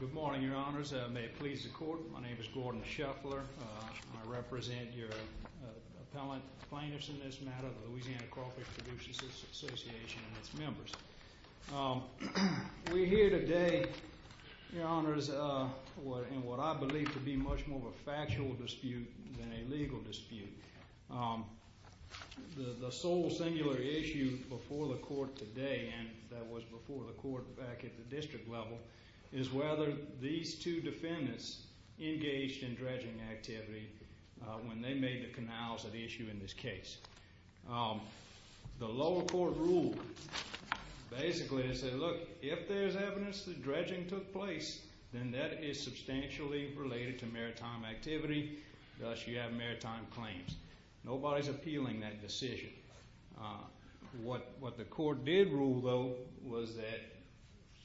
Good morning, your honors. May it please the court, my name is Gordon Shuffler. I represent your appellant plaintiffs in this matter, the Louisiana Crawfish Producers Association and its members. We're here today, your honors, in what I believe to be much more of a factual dispute than a legal dispute. The sole singular issue before the court today, and that was before the court back at the district level, is whether these two defendants engaged in dredging activity when they made the canals at issue in this case. The lower court ruled, basically they said, look, if there's evidence that dredging took place, then that is substantially related to maritime activity, thus you have maritime claims. Nobody's appealing that decision. What the court did rule, though, was that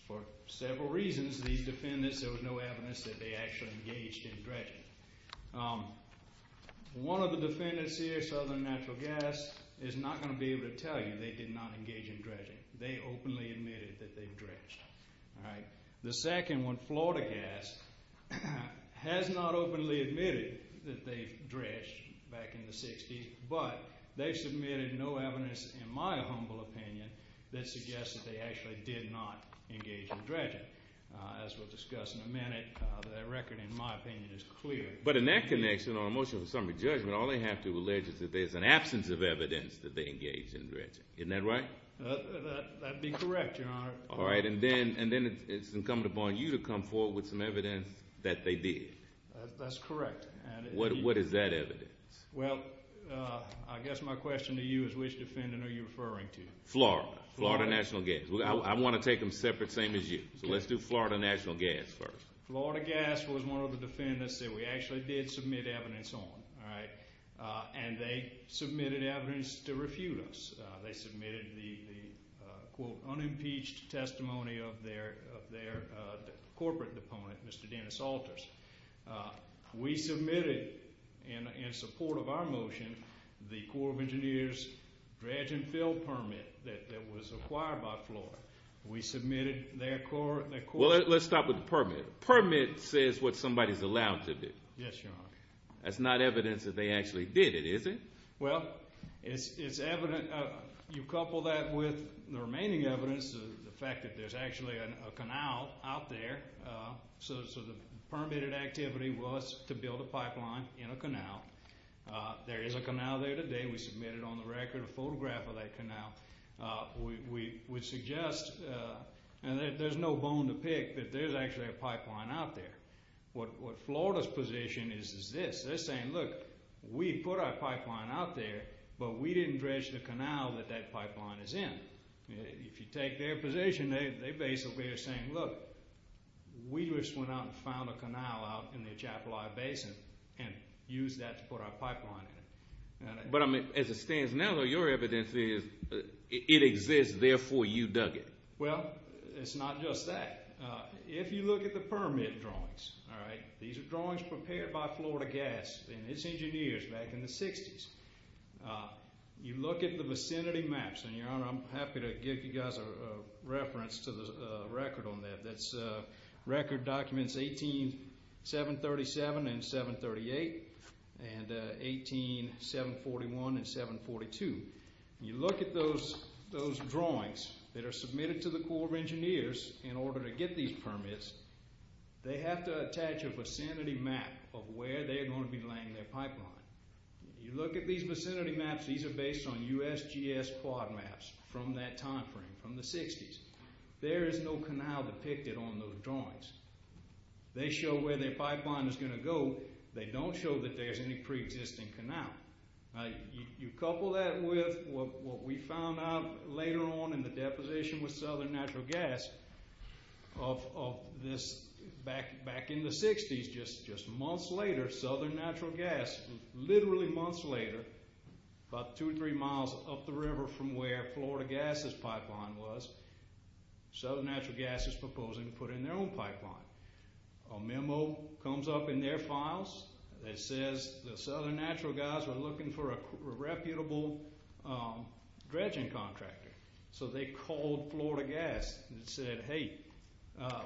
for several reasons, these defendants, there was no evidence that they actually engaged in dredging. One of the defendants here, Southern Natural Gas, is not going to be able to tell you they did not engage in dredging. They openly admitted that they dredged. The second one, Florida Gas, has not openly admitted that they dredged back in the 60s, but they submitted no evidence, in my humble opinion, that suggests that they actually did not engage in dredging. As we'll discuss in a minute, that record, in my opinion, is clear. But in that connection, on a motion for summary judgment, all they have to allege is that there's an absence of evidence that they engaged in dredging. Isn't that right? That'd be correct, Your Honor. All right, and then it's incumbent upon you to come forward with some evidence that they did. That's correct. What is that evidence? Well, I guess my question to you is which defendant are you referring to? Florida. Florida National Gas. I want to take them separate, same as you. So let's do Florida National Gas first. Florida Gas was one of the defendants that we actually did submit evidence on, all right, and they submitted evidence to refute us. They submitted the quote, unimpeached testimony of their corporate opponent, Mr. Dennis Alters. We submitted, in support of our motion, the Corps of Engineers dredge and fill permit that was acquired by Florida. We submitted their court... Well, let's stop with the permit. Permit says what somebody's allowed to do. Yes, Your Honor. That's not evidence that they actually did it, is it? Well, it's evidence... You couple that with the remaining evidence, the fact that there's actually a canal out there. So the permitted activity was to build a pipeline in a canal. There is a canal there today. We submitted on the record a photograph of that canal. We suggest, and there's no bone to pick, that there's actually a pipeline out there. What Florida's position is, is this. They're saying, look, we put our pipeline out there, but we didn't dredge the canal that that pipeline is in. If you take their position, they basically are saying, look, we just went out and found a canal out in the Atchafalaya Basin and used that to put our pipeline in. But, I mean, as it stands now, your evidence is, it exists, therefore you dug it. Well, it's not just that. If you look at the permit drawings, all right, these are drawings prepared by Florida Gas and its engineers back in the 60s. You look at the vicinity maps, and, Your Honor, I'm happy to give you guys a reference to the record on that. That record documents 18-737 and 738 and 18-741 and 742. You look at those drawings that are submitted to the Corps of Engineers in order to get these permits, they have to attach a vicinity map of where they're going to be laying their pipeline. You look at these vicinity maps, these are based on USGS quad maps from that time frame, from the 60s. There is no canal depicted on those drawings. They show where their pipeline is going to go. They don't show that there's any pre-existing canal. You couple that with what we found out later on in the deposition with Southern Natural Gas of this back in the 60s, just months later, Southern Natural Gas, literally months later, about two or three miles up the river from where Florida Gas' pipeline was, Southern Natural Gas is proposing to put in their own pipeline. A memo comes up in their files that says Southern Natural Gas were looking for a reputable dredging contractor. So they called Florida Gas and said, hey,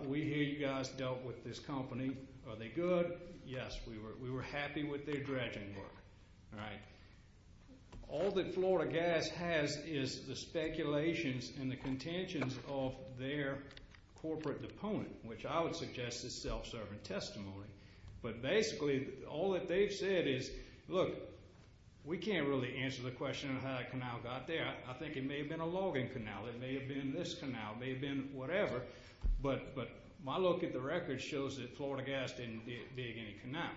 we hear you guys dealt with this company. Are they good? Yes, we were happy with their dredging work. All right. All that Florida Gas has is the speculations and the contentions of their corporate opponent, which I would suggest is self-serving testimony. But basically, all that they've said is, look, we can't really answer the question of how that canal got there. I think it may have been a logging canal. It may have been this canal. It may have been whatever. But my look at the record shows that Florida Gas didn't dig any canal.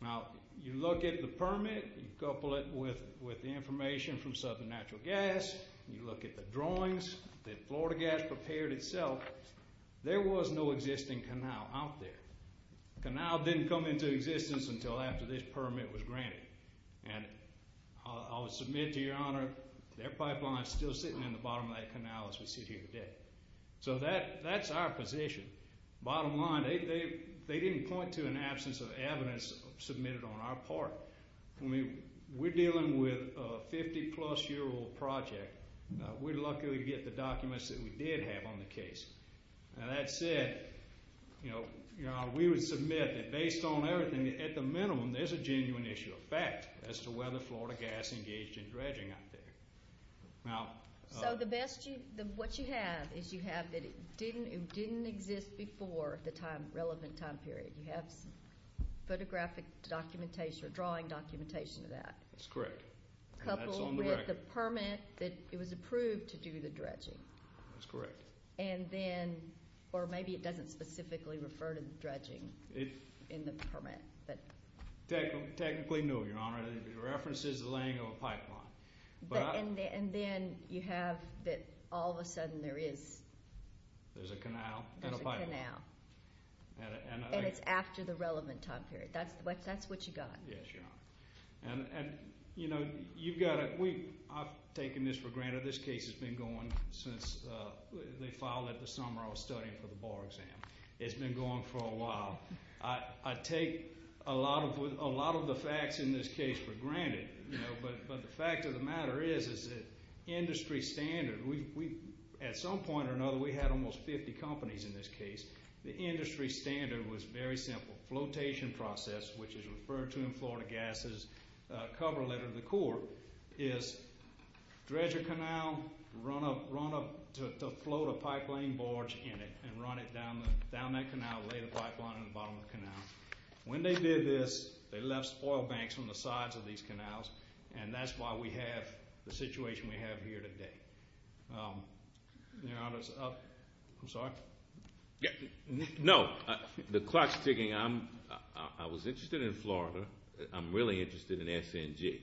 Now, you look at the permit, you couple it with the information from Southern Natural Gas. You look at the drawings that Florida Gas prepared itself, there was no existing canal out there. The canal didn't come into existence until after this permit was granted. And I'll submit to your honor, their pipeline is still sitting in the bottom of that canal as we sit here today. So that's our position. Bottom line, they didn't point to an absence of evidence submitted on our part. We're dealing with a 50-plus-year-old project. We're lucky we get the documents that we did have on the case. Now, that said, you know, we would submit that based on everything, at the minimum, there's a genuine issue of fact as to whether Florida Gas engaged in dredging out there. So what you have is you have that it didn't exist before the relevant time period. You have the geographic documentation or drawing documentation of that. That's correct. Coupled with the permit that it was approved to do the dredging. That's correct. And then, or maybe it doesn't specifically refer to dredging in the permit. Technically, no, your honor. It references the laying of a pipeline. And then you have that all of a sudden there is. There's a problem. That's what you got. Yes, your honor. And, you know, you've got to, we, I've taken this for granted. This case has been going since they filed it the summer I was studying for the bar exam. It's been going for a while. I take a lot of the facts in this case for granted, you know, but the fact of the matter is, is that industry standard, we, at some point or another, we had almost 50 companies in this case. The industry standard was very simple. Flotation process, which is referred to in Florida Gases cover letter to the court, is dredge a canal, run a, run a, to float a pipeline barge in it and run it down, down that canal, lay the pipeline in the bottom of the canal. When they did this, they left oil banks on the sides of these canals and that's why we have the situation we have here today. Your honors, I'm sorry. No, the clock's ticking. I'm, I was interested in Florida. I'm really interested in SNG.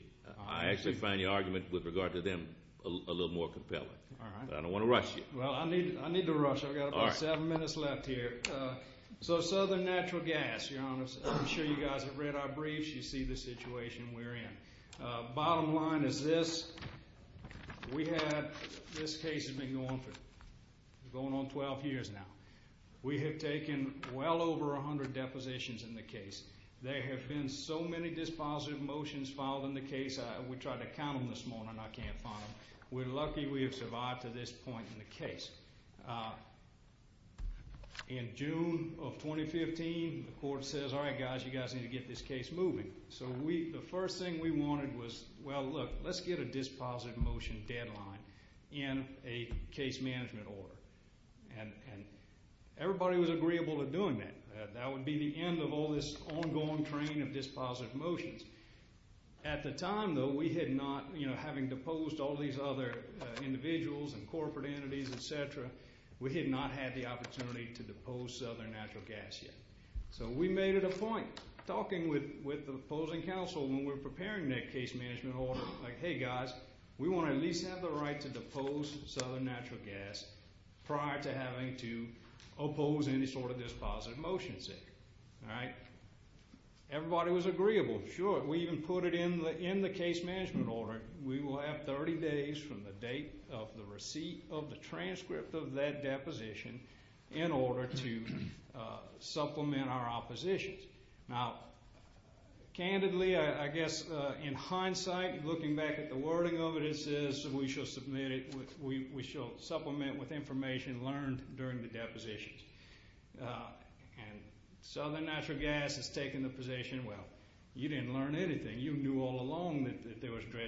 I actually find your argument with regard to them a little more compelling. All right. But I don't want to rush you. Well, I need, I need to rush. I've got about seven minutes left here. So Southern Natural Gas, your honors, I'm sure you guys have read our briefs. You see the situation we're in. Bottom line is this. We had, this case has been going for, going on 12 years now. We have taken well over 100 depositions in the case. There have been so many dispositive motions filed in the case. We tried to count them this morning. I can't find them. We're lucky we have survived to this point in the case. In June of 2015, the court says, all right, guys, you guys need to get this case moving. So we, the first thing we wanted was, well, look, let's get a dispositive motion deadline in a case management order. And everybody was agreeable to doing that. That would be the end of all this ongoing train of dispositive motions. At the time, though, we had not, you know, having deposed all these other individuals and corporate entities, et cetera, we had not had the opportunity to depose Southern Natural Gas yet. So we made it a point. Talking with the opposing counsel when we were preparing that case management order, like, hey, guys, we want to at least have the right to depose Southern Natural Gas prior to having to oppose any sort of dispositive motion. All right? Everybody was agreeable. Sure. We even put it in the case management order. We will have 30 days from the date of the receipt of the transcript of that deposition in order to supplement our positions. Now, candidly, I guess in hindsight, looking back at the wording of it, it says we shall submit it, we shall supplement with information learned during the depositions. And Southern Natural Gas has taken the position, well, you didn't learn anything. You knew all along that there was no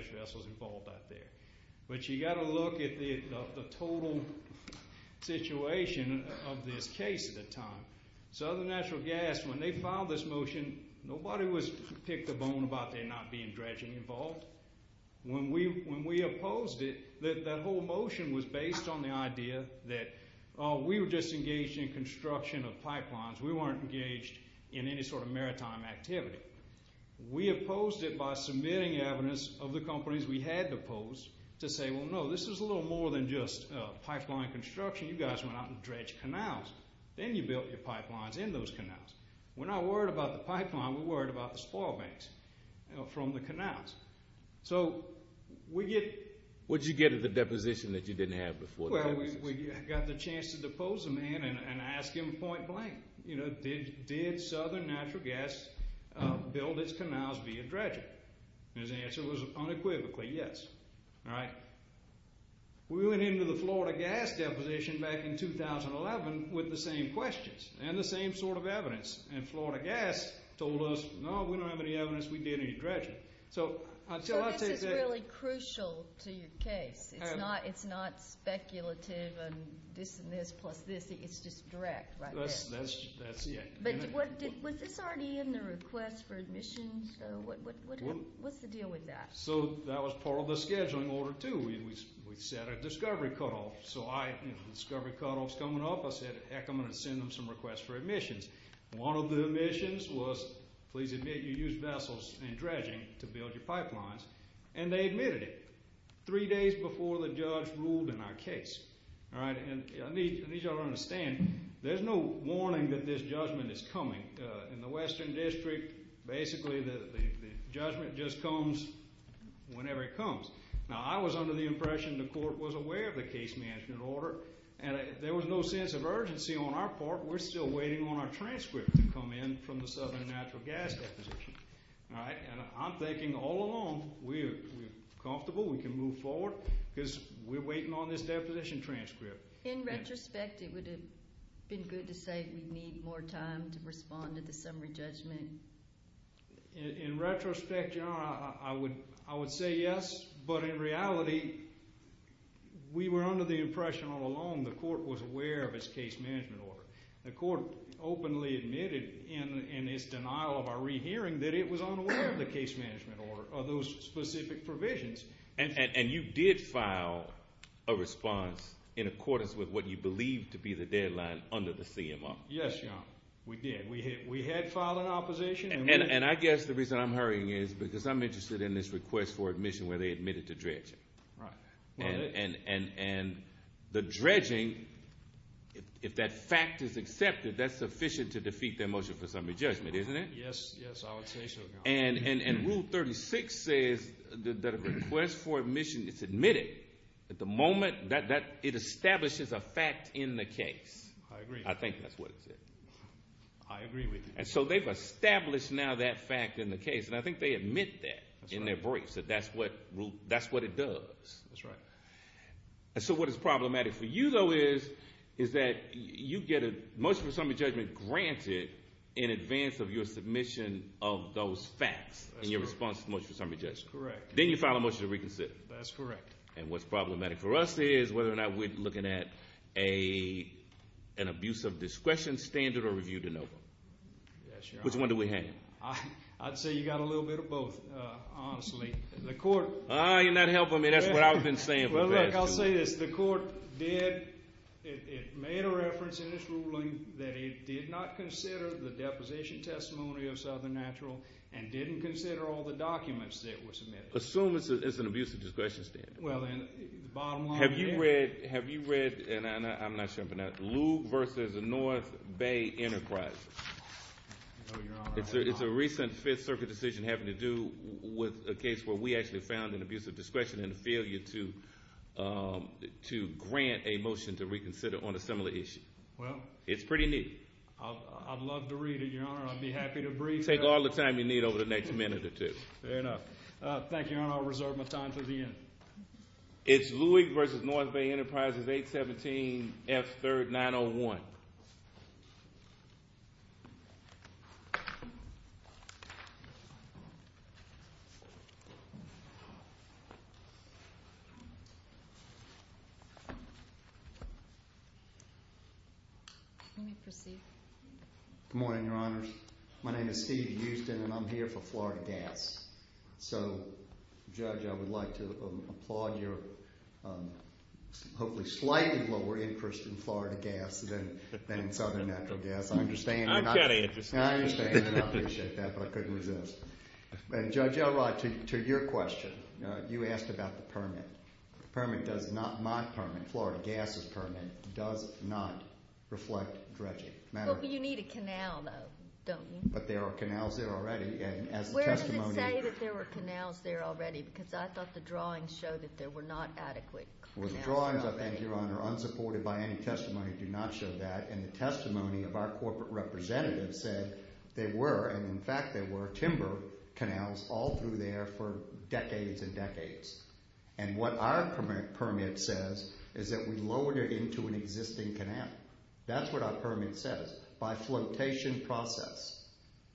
situation of this case at the time. Southern Natural Gas, when they filed this motion, nobody picked a bone about there not being dredging involved. When we opposed it, that whole motion was based on the idea that we were disengaged in construction of pipelines. We weren't engaged in any sort of pipeline construction. You guys went out and dredged canals. Then you built your pipelines in those canals. We're not worried about the pipeline, we're worried about the spoil banks from the canals. So we get... What did you get of the deposition that you didn't have before the deposition? Well, we got the chance to depose the man and ask him point blank, you know, did Southern Natural Gas build its canals via dredging? And his answer was unequivocally yes. We went into the Florida Gas deposition back in 2011 with the same questions and the same sort of evidence. And Florida Gas told us, no, we don't have any evidence we did any dredging. So this is really crucial to your case. It's not speculative and this and this plus this. It's just direct right there. But was this already in the request for admission? What's the deal with that? So that was part of the scheduling order too. We set a discovery cutoff. So discovery cutoff's coming up. I said, heck, I'm going to send them some requests for admissions. One of the admissions was, please admit you used vessels and dredging to build your is coming. In the Western District, basically the judgment just comes whenever it comes. Now I was under the impression the court was aware of the case management order and there was no sense of urgency on our part. We're still waiting on our transcript to come in from the Southern Natural Gas deposition. And I'm thinking all along we're comfortable. We can move forward because we're waiting on this deposition transcript. In retrospect, it would have been good to say we need more time to respond to the summary judgment. In retrospect, I would say yes. But in reality, we were under the impression all along the court was aware of its case management order. The court openly admitted in its denial of our rehearing that it was unaware of the case management order or those specific provisions. And you did file a response in accordance with what you believed to be the deadline under the CMR. Yes, Your Honor. We did. We had filed an opposition. And I guess the reason I'm hurrying is because I'm interested in this request for admission where they admitted to dredging. And the dredging, if that fact is accepted, that's sufficient to defeat their motion for summary judgment, isn't it? Yes, I would say so, Your Honor. And Rule 36 says that a request for admission is admitted at the moment that it establishes a fact in the case. I agree. I think that's what it said. I agree with you. And so they've established now that fact in the case. And I think they admit that in their briefs, that that's what it does. That's right. And so what is problematic for you, though, is that you get a motion for summary judgment granted in advance of your submission of those facts in your response to the motion for summary judgment. That's correct. Then you file a motion to reconsider. That's correct. And what's problematic for us is whether or not we're looking at an abuse of discretion standard or review de novo. Which one do we have? I'd say you've got a little bit of both, honestly. Ah, you're not helping me. That's what I've been saying. Well, look, I'll say this. The court did, it made a reference in this ruling that it did not consider the deposition testimony of Southern Natural and didn't consider all the documents that were submitted. Assume it's an abuse of discretion standard. Have you read, and I'm not sure I'm pronouncing it, Lube versus North Bay Enterprises? It's a recent Fifth Circuit decision having to do with a case where we actually found an abuse of discretion and a failure to grant a motion to reconsider on a similar issue. Well, I'd love to read it, Your Honor. I'd be happy to brief. Take all the time you need over the next minute or two. Fair enough. Thank you, Your Honor. I'll reserve my time for the end. It's Lube versus North Bay Enterprises, 817F3901. Let me proceed. I understand and I appreciate that, but I couldn't resist. Judge Elrod, to your question, you asked about the permit. The permit does not, my permit, Florida Gas' permit, does not reflect dredging. Well, but you need a canal, though, don't you? But there are canals there already, and as the testimony. Where does it say that there were canals there already? Because I thought the drawings showed that there were not adequate canals. Well, the drawings, I think, Your Honor, unsupported by any testimony do not show that, and the testimony of our corporate representative said there were, and in fact there were, timber canals all through there for decades and decades. And what our permit says is that we lowered it into an existing canal. That's what our permit says, by flotation process.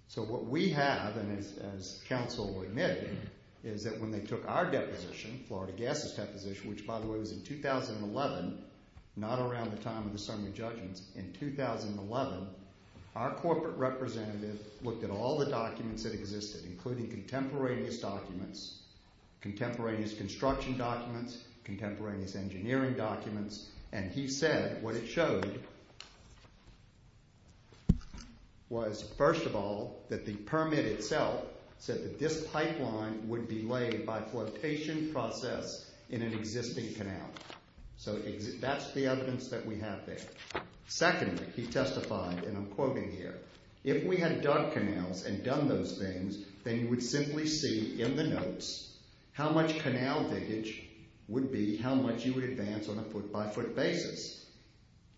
So what we have, and as counsel admitted, is that when they took our deposition, Florida Gas' deposition, which, by the way, was in 2011, not around the time of the summary judgments. In 2011, our corporate representative looked at all the documents that existed, including contemporaneous documents, contemporaneous construction documents, contemporaneous engineering documents. And he said what it showed was, first of all, that the permit itself said that this pipeline would be laid by flotation process in an existing canal. So that's the evidence that we have there. Secondly, he testified, and I'm quoting here, if we had dug canals and done those things, then you would simply see in the notes how much canal damage would be, how much you would advance on a foot-by-foot basis.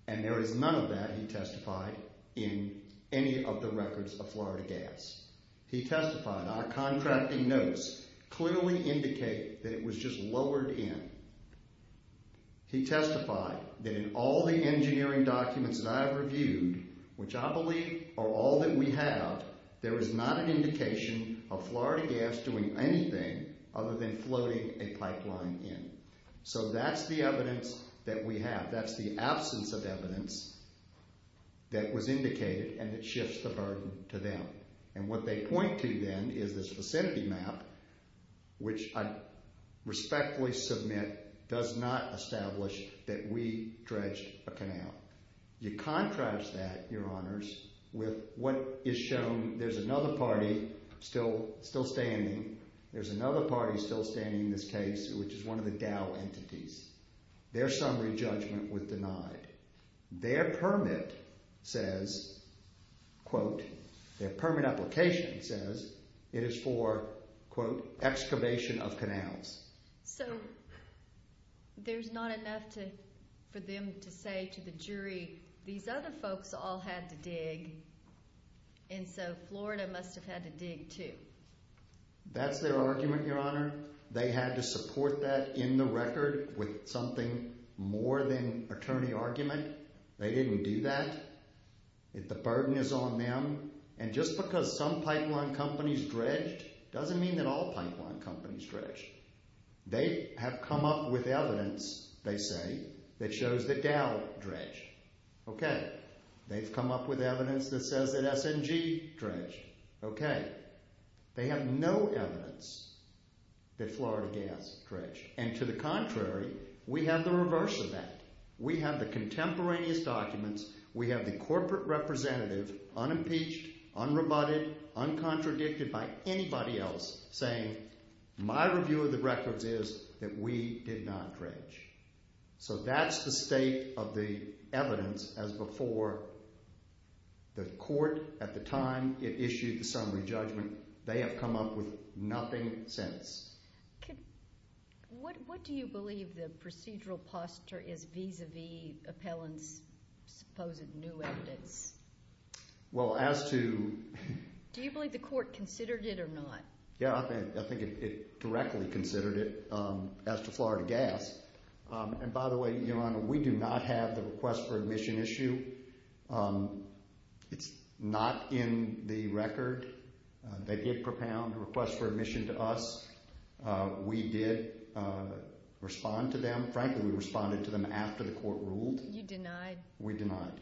And there is none of that, he testified, in any of the records of Florida Gas. He testified, our contracting notes clearly indicate that it was just lowered in. He testified that in all the engineering documents that I've reviewed, which I believe are all that we have, there is not an indication of Florida Gas doing anything other than floating a pipeline in. So that's the evidence that we have. That's the absence of evidence that was indicated and that shifts the burden to them. And what they point to then is this vicinity map, which I respectfully submit does not establish that we dredged a canal. You contrast that, Your Honors, with what is shown. There's another party still standing. There's another party still standing in this case, which is one of the Dow entities. Their summary judgment was denied. Their permit says, quote, their permit application says it is for, quote, excavation of canals. So there's not enough for them to say to the jury, these other folks all had to dig and so Florida must have had to dig too. That's their argument, Your Honor. They had to support that in the record with something more than attorney argument. They didn't do that. The burden is on them. And just because some pipeline companies dredged doesn't mean that all pipeline companies dredged. They have come up with evidence, they say, that shows that Dow dredged. Okay. They've come up with evidence that says that S&G dredged. Okay. They have no evidence that Florida Gas dredged. And to the contrary, we have the reverse of that. We have the contemporaneous documents. We have the corporate representative unimpeached, unrebutted, uncontradicted by anybody else saying my review of the records is that we did not dredge. So that's the state of the evidence as before the court at the time it issued the summary judgment. They have come up with nothing since. What do you believe the procedural posture is vis-a-vis appellant's supposed new evidence? Well, as to – Do you believe the court considered it or not? Yeah, I think it directly considered it as to Florida Gas. And by the way, Your Honor, we do not have the request for admission issue. It's not in the record. They did propound a request for admission to us. We did respond to them. Frankly, we responded to them after the court ruled. You denied? We denied.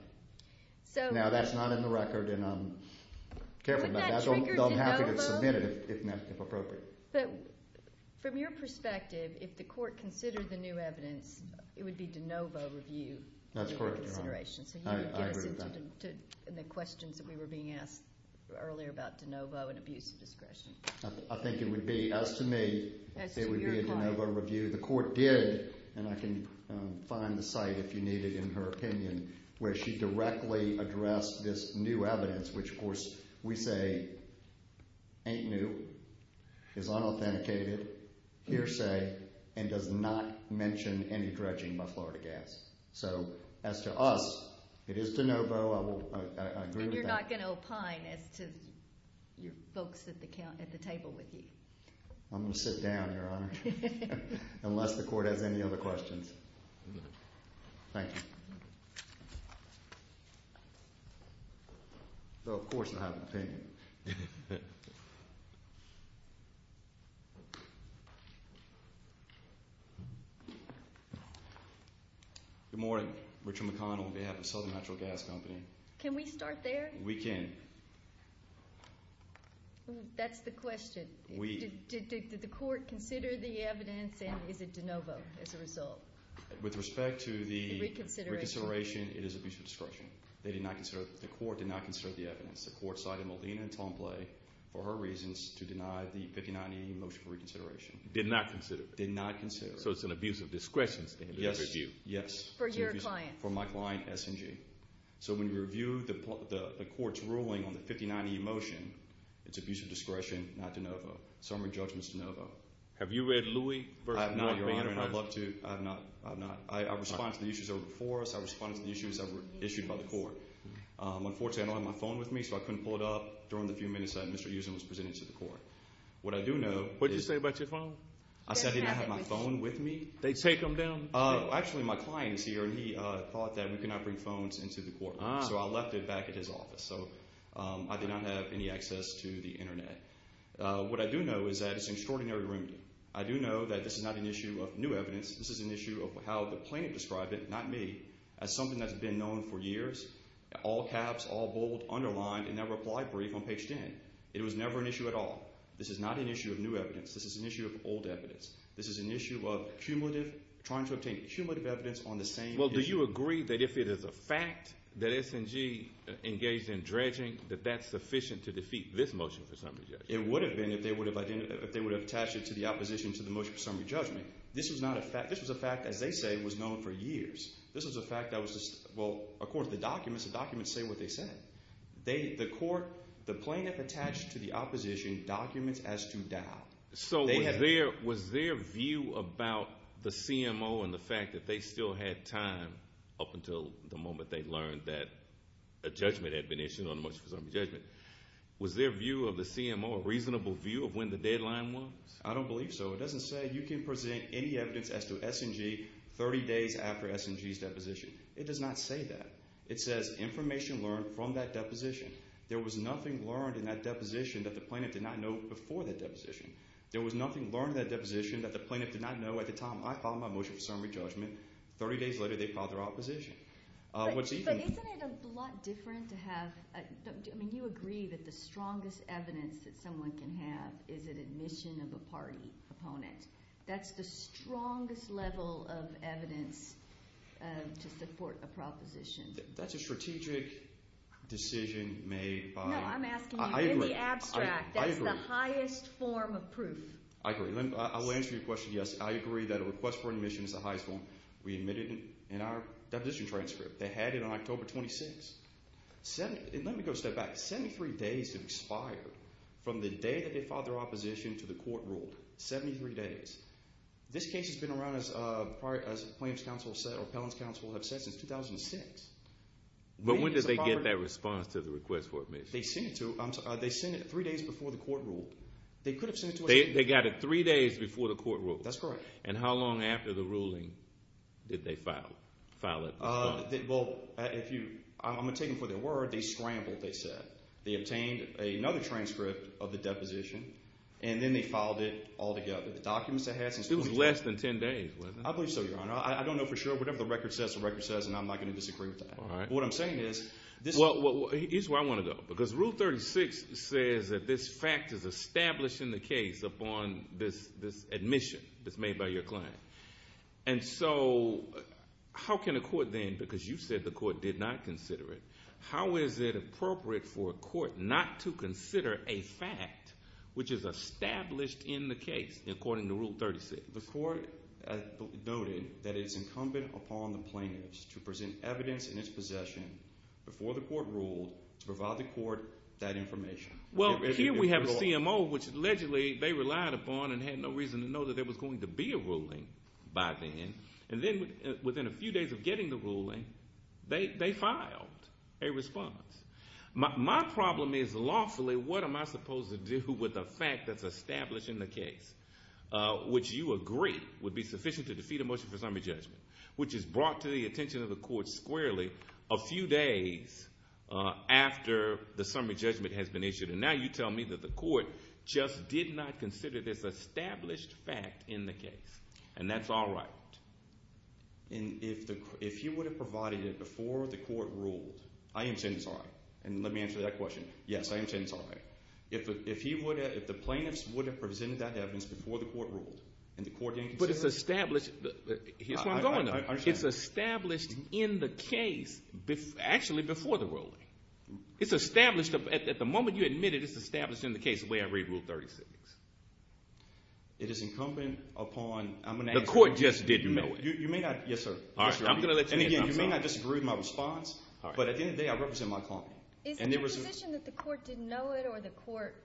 Now, that's not in the record. Would that trigger DeNovo? I'm happy to submit it if appropriate. From your perspective, if the court considered the new evidence, it would be DeNovo review. That's correct, Your Honor. So you would give us the questions that we were being asked earlier about DeNovo and abuse of discretion. I think it would be, as to me, it would be a DeNovo review. The court did, and I can find the site if you need it in her opinion, where she directly addressed this new evidence, which, of course, we say ain't new, is unauthenticated, hearsay, and does not mention any dredging by Florida Gas. So as to us, it is DeNovo. I agree with that. And you're not going to opine as to your folks at the table with you? I'm going to sit down, Your Honor, unless the court has any other questions. Thank you. Though, of course, I have an opinion. Good morning. Richard McConnell on behalf of Southern Natural Gas Company. Can we start there? We can. That's the question. Did the court consider the evidence, and is it DeNovo as a result? With respect to the reconsideration, it is abuse of discretion. They did not consider it. The court did not consider the evidence. The court cited Molina and Tompley for her reasons to deny the 59E motion for reconsideration. Did not consider it. Did not consider it. So it's an abuse of discretion statement. Yes. For your client. For my client, S&G. So when you review the court's ruling on the 59E motion, it's abuse of discretion, not DeNovo. So I'm going to judge Mr. DeNovo. Have you read Louis v. Morgan? I have not, Your Honor, and I'd love to. I have not. I have not. I respond to the issues that were before us. I respond to the issues that were issued by the court. Unfortunately, I don't have my phone with me, so I couldn't pull it up during the few minutes that Mr. Usen was presenting to the court. What I do know is— What did you say about your phone? I said I didn't have my phone with me. They take them down? Actually, my client is here, and he thought that we could not bring phones into the courtroom, so I left it back at his office. So I did not have any access to the Internet. What I do know is that it's an extraordinary remedy. I do know that this is not an issue of new evidence. This is an issue of how the plaintiff described it, not me, as something that's been known for years, all caps, all bold, underlined, and never applied brief on page 10. It was never an issue at all. This is not an issue of new evidence. This is an issue of old evidence. This is an issue of cumulative—trying to obtain cumulative evidence on the same issue. Well, do you agree that if it is a fact that S&G engaged in dredging, that that's sufficient to defeat this motion for summary judgment? It would have been if they would have attached it to the opposition to the motion for summary judgment. This was not a fact. This was a fact, as they say, was known for years. This was a fact that was—well, of course, the documents, the documents say what they say. The court—the plaintiff attached to the opposition documents as to doubt. So was their view about the CMO and the fact that they still had time up until the moment they learned that a judgment had been issued on the motion for summary judgment, was their view of the CMO a reasonable view of when the deadline was? I don't believe so. It doesn't say you can present any evidence as to S&G 30 days after S&G's deposition. It does not say that. It says information learned from that deposition. There was nothing learned in that deposition that the plaintiff did not know before that deposition. There was nothing learned in that deposition that the plaintiff did not know at the time I filed my motion for summary judgment. Thirty days later, they filed their opposition. What's even— But isn't it a lot different to have—I mean you agree that the strongest evidence that someone can have is an admission of a party opponent. That's the strongest level of evidence to support a proposition. That's a strategic decision made by— No, I'm asking you in the abstract. I agree. That's the highest form of proof. I agree. I will answer your question, yes. I agree that a request for admission is the highest form. We admitted it in our deposition transcript. They had it on October 26th. Let me go a step back. Seventy-three days have expired from the day that they filed their opposition to the court rule. Seventy-three days. This case has been around as plaintiff's counsel have said or appellant's counsel have said since 2006. But when did they get that response to the request for admission? They sent it to—they sent it three days before the court ruled. They could have sent it to us— They got it three days before the court ruled. That's correct. And how long after the ruling did they file it? Well, if you—I'm going to take them for their word. They scrambled, they said. They obtained another transcript of the deposition, and then they filed it altogether. It was less than ten days, wasn't it? I believe so, Your Honor. I don't know for sure. Whatever the record says, the record says, and I'm not going to disagree with that. All right. What I'm saying is— Well, here's where I want to go. Because Rule 36 says that this fact is established in the case upon this admission that's made by your client. And so how can a court then—because you said the court did not consider it— how is it appropriate for a court not to consider a fact which is established in the case according to Rule 36? The court noted that it is incumbent upon the plaintiffs to present evidence in its possession before the court ruled to provide the court that information. Well, here we have a CMO, which allegedly they relied upon and had no reason to know that there was going to be a ruling by then. And then within a few days of getting the ruling, they filed a response. My problem is lawfully what am I supposed to do with a fact that's established in the case, which you agree would be sufficient to defeat a motion for summary judgment, which is brought to the attention of the court squarely a few days after the summary judgment has been issued. And now you tell me that the court just did not consider this established fact in the case. And that's all right. And if he would have provided it before the court ruled—I am saying it's all right, and let me answer that question. Yes, I am saying it's all right. If he would have—if the plaintiffs would have presented that evidence before the court ruled and the court didn't consider it— But it's established—here's where I'm going. I understand. It's established in the case actually before the ruling. It's established—at the moment you admit it, it's established in the case the way I read Rule 36. It is incumbent upon— The court just didn't know it. You may not—yes, sir. And again, you may not disagree with my response, but at the end of the day I represent my client. Is it your position that the court didn't know it or the court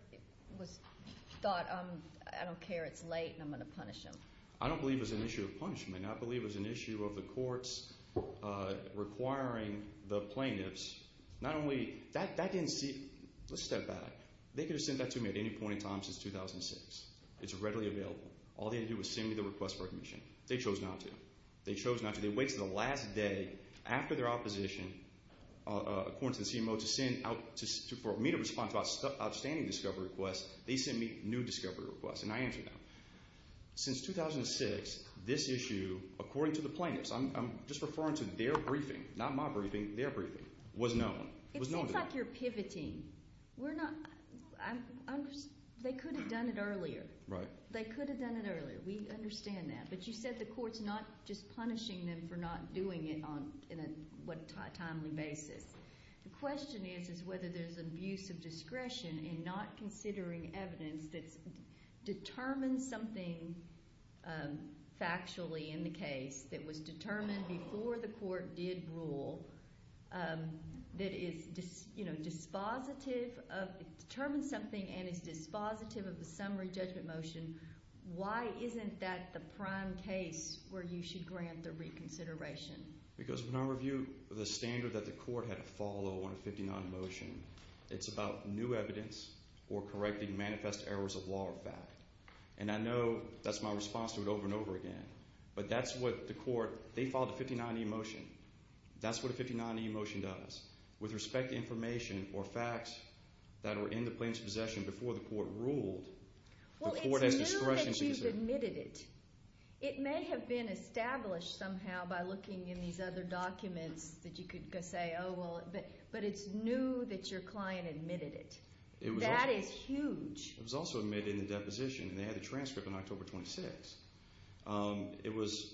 thought I don't care, it's late, and I'm going to punish him? I don't believe it was an issue of punishment. I believe it was an issue of the courts requiring the plaintiffs not only—that didn't see—let's step back. They could have sent that to me at any point in time since 2006. It's readily available. All they had to do was send me the request for admission. They chose not to. They chose not to. They waited until the last day after their opposition, according to the CMO, to send out—for me to respond to outstanding discovery requests. They sent me new discovery requests, and I answered them. Since 2006, this issue, according to the plaintiffs—I'm just referring to their briefing, not my briefing, their briefing—was known. It seems like you're pivoting. We're not—they could have done it earlier. Right. They could have done it earlier. We understand that. But you said the court's not just punishing them for not doing it on a timely basis. The question is is whether there's an abuse of discretion in not considering evidence that determines something factually in the case that was determined before the court did rule that is dispositive of— determines something and is dispositive of the summary judgment motion. Why isn't that the prime case where you should grant the reconsideration? Because when I review the standard that the court had to follow on a 59E motion, it's about new evidence or correcting manifest errors of law or fact. And I know that's my response to it over and over again, but that's what the court—they followed a 59E motion. That's what a 59E motion does. With respect to information or facts that were in the plaintiff's possession before the court ruled, the court has discretion to— Well, it's new that you've admitted it. It may have been established somehow by looking in these other documents that you could say, oh, well—but it's new that your client admitted it. That is huge. It was also admitted in the deposition, and they had the transcript on October 26th. It was,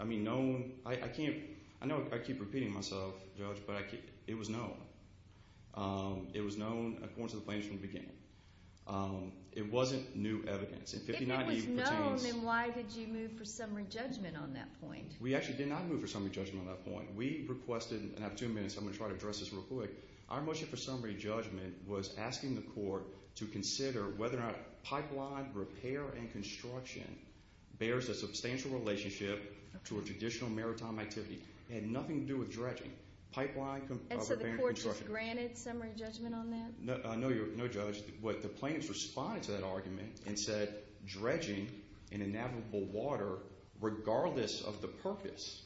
I mean, known—I can't—I know I keep repeating myself, Judge, but it was known. It was known according to the plaintiff from the beginning. It wasn't new evidence. If it was known, then why did you move for summary judgment on that point? We actually did not move for summary judgment on that point. We requested—and I have two minutes. I'm going to try to address this real quick. Our motion for summary judgment was asking the court to consider whether or not pipeline repair and construction bears a substantial relationship to a traditional maritime activity. It had nothing to do with dredging. Pipeline repair and construction. And so the court just granted summary judgment on that? No, Judge. The plaintiff responded to that argument and said dredging in a navigable water, regardless of the purpose,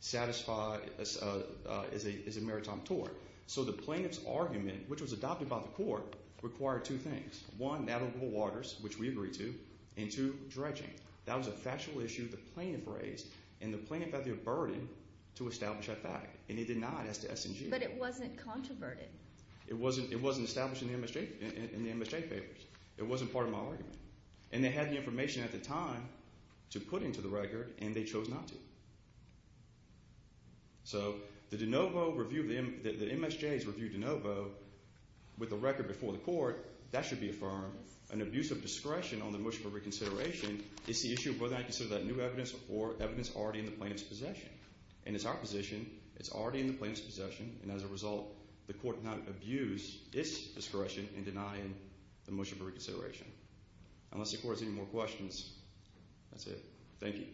satisfy—is a maritime tort. So the plaintiff's argument, which was adopted by the court, required two things. One, navigable waters, which we agreed to, and two, dredging. That was a factual issue the plaintiff raised, and the plaintiff had the burden to establish that fact, and he denied it as to S&G. But it wasn't controverted. It wasn't established in the MSJ papers. It wasn't part of my argument. And they had the information at the time to put into the record, and they chose not to. So the de novo review—the MSJs reviewed de novo with the record before the court. That should be affirmed. An abuse of discretion on the motion for reconsideration is the issue of whether or not you consider that new evidence or evidence already in the plaintiff's possession. And as a result, the court cannot abuse its discretion in denying the motion for reconsideration. Unless the court has any more questions, that's it. Thank you.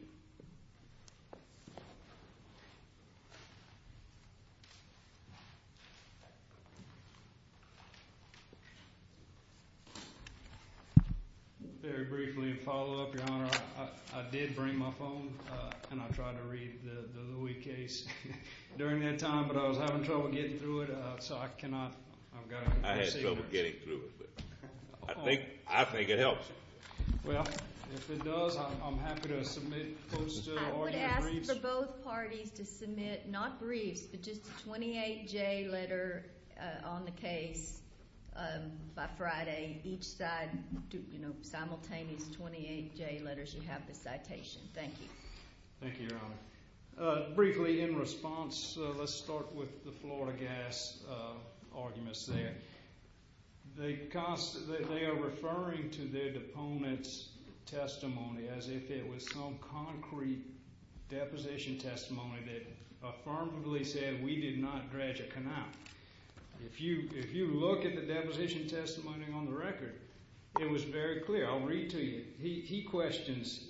I did bring my phone, and I tried to read the Louie case during that time, but I was having trouble getting through it, so I cannot. I had trouble getting through it. I think it helps. Well, if it does, I'm happy to submit quotes to all your briefs. I would ask for both parties to submit not briefs but just a 28-J letter on the case by Friday, each side, you know, simultaneous 28-J letters. You have the citation. Thank you. Thank you, Your Honor. Briefly, in response, let's start with the Florida gas arguments there. They are referring to their deponent's testimony as if it was some concrete deposition testimony that affirmatively said we did not dredge a canal. If you look at the deposition testimony on the record, it was very clear. I'll read to you. He questions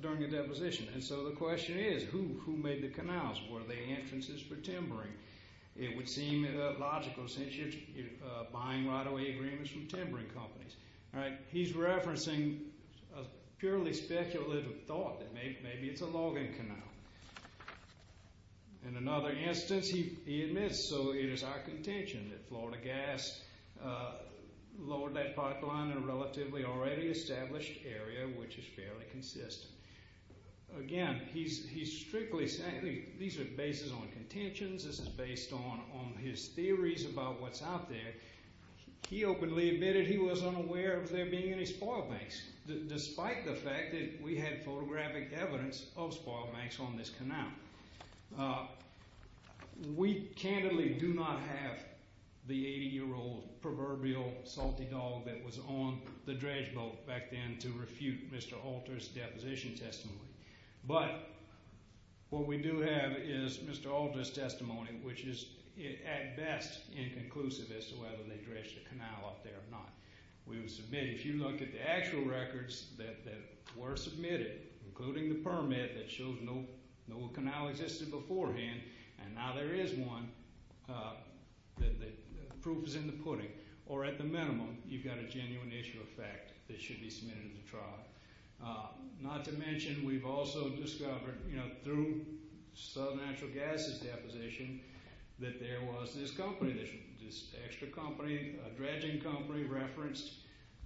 during the deposition. And so the question is, who made the canals? Were they entrances for timbering? It would seem logical since you're buying right-of-way agreements from timbering companies. All right. He's referencing a purely speculative thought that maybe it's a logging canal. In another instance, he admits, so it is our contention that Florida Gas lowered that pipeline in a relatively already established area, which is fairly consistent. Again, he's strictly saying these are bases on contentions. This is based on his theories about what's out there. He openly admitted he was unaware of there being any spoil banks, despite the fact that we had photographic evidence of spoil banks on this canal. We candidly do not have the 80-year-old proverbial salty dog that was on the dredge boat back then to refute Mr. Alter's deposition testimony. But what we do have is Mr. Alter's testimony, which is at best inconclusive as to whether they dredged the canal up there or not. We would submit it. If you look at the actual records that were submitted, including the permit that shows no canal existed beforehand, and now there is one, the proof is in the pudding. Or at the minimum, you've got a genuine issue of fact that should be submitted to trial. Not to mention we've also discovered through Southern Natural Gas's deposition that there was this company, this extra company, a dredging company referenced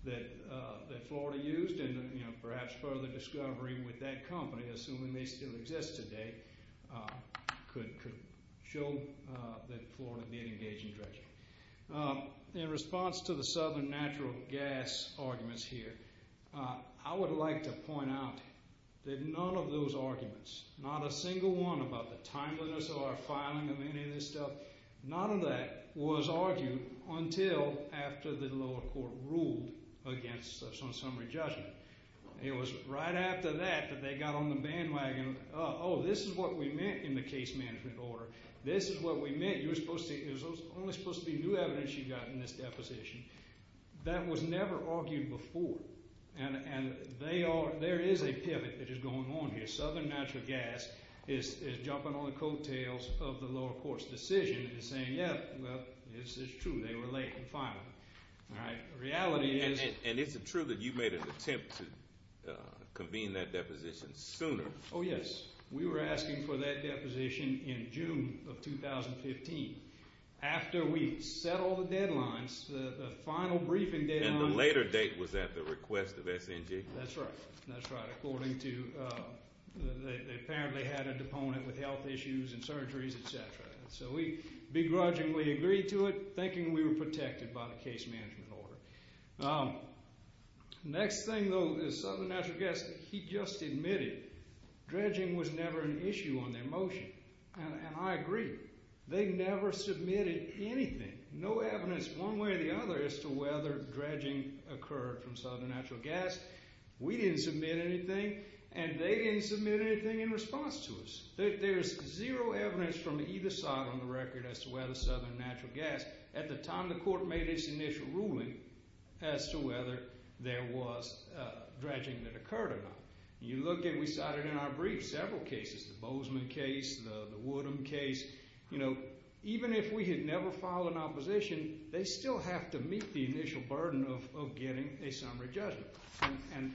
that Florida used. And perhaps further discovery with that company, assuming they still exist today, could show that Florida did engage in dredging. In response to the Southern Natural Gas arguments here, I would like to point out that none of those arguments, not a single one about the timeliness of our filing of any of this stuff, none of that was argued until after the lower court ruled against us on summary judgment. It was right after that that they got on the bandwagon, oh, this is what we meant in the case management order. This is what we meant. It was only supposed to be new evidence you got in this deposition. That was never argued before, and there is a pivot that is going on here. Southern Natural Gas is jumping on the coattails of the lower court's decision and saying, yeah, well, it's true. They were late in filing. The reality is— And it's true that you made an attempt to convene that deposition sooner. Oh, yes. We were asking for that deposition in June of 2015. After we set all the deadlines, the final briefing deadline— And the later date was at the request of SNG. That's right. That's right. According to—they apparently had a deponent with health issues and surgeries, et cetera. So we begrudgingly agreed to it, thinking we were protected by the case management order. Next thing, though, is Southern Natural Gas, he just admitted dredging was never an issue on their motion. And I agree. They never submitted anything. No evidence one way or the other as to whether dredging occurred from Southern Natural Gas. We didn't submit anything, and they didn't submit anything in response to us. There is zero evidence from either side on the record as to whether Southern Natural Gas— as to whether there was dredging that occurred or not. You look at—we cited in our brief several cases, the Bozeman case, the Woodham case. You know, even if we had never filed an opposition, they still have to meet the initial burden of getting a summary judgment. And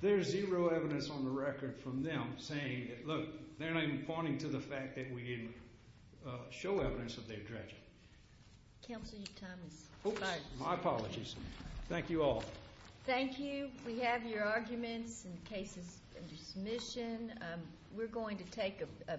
there is zero evidence on the record from them saying— Look, they're not even pointing to the fact that we didn't show evidence that they dredged it. Counsel, your time is up. My apologies. Thank you all. Thank you. We have your arguments and cases under submission. We're going to take a—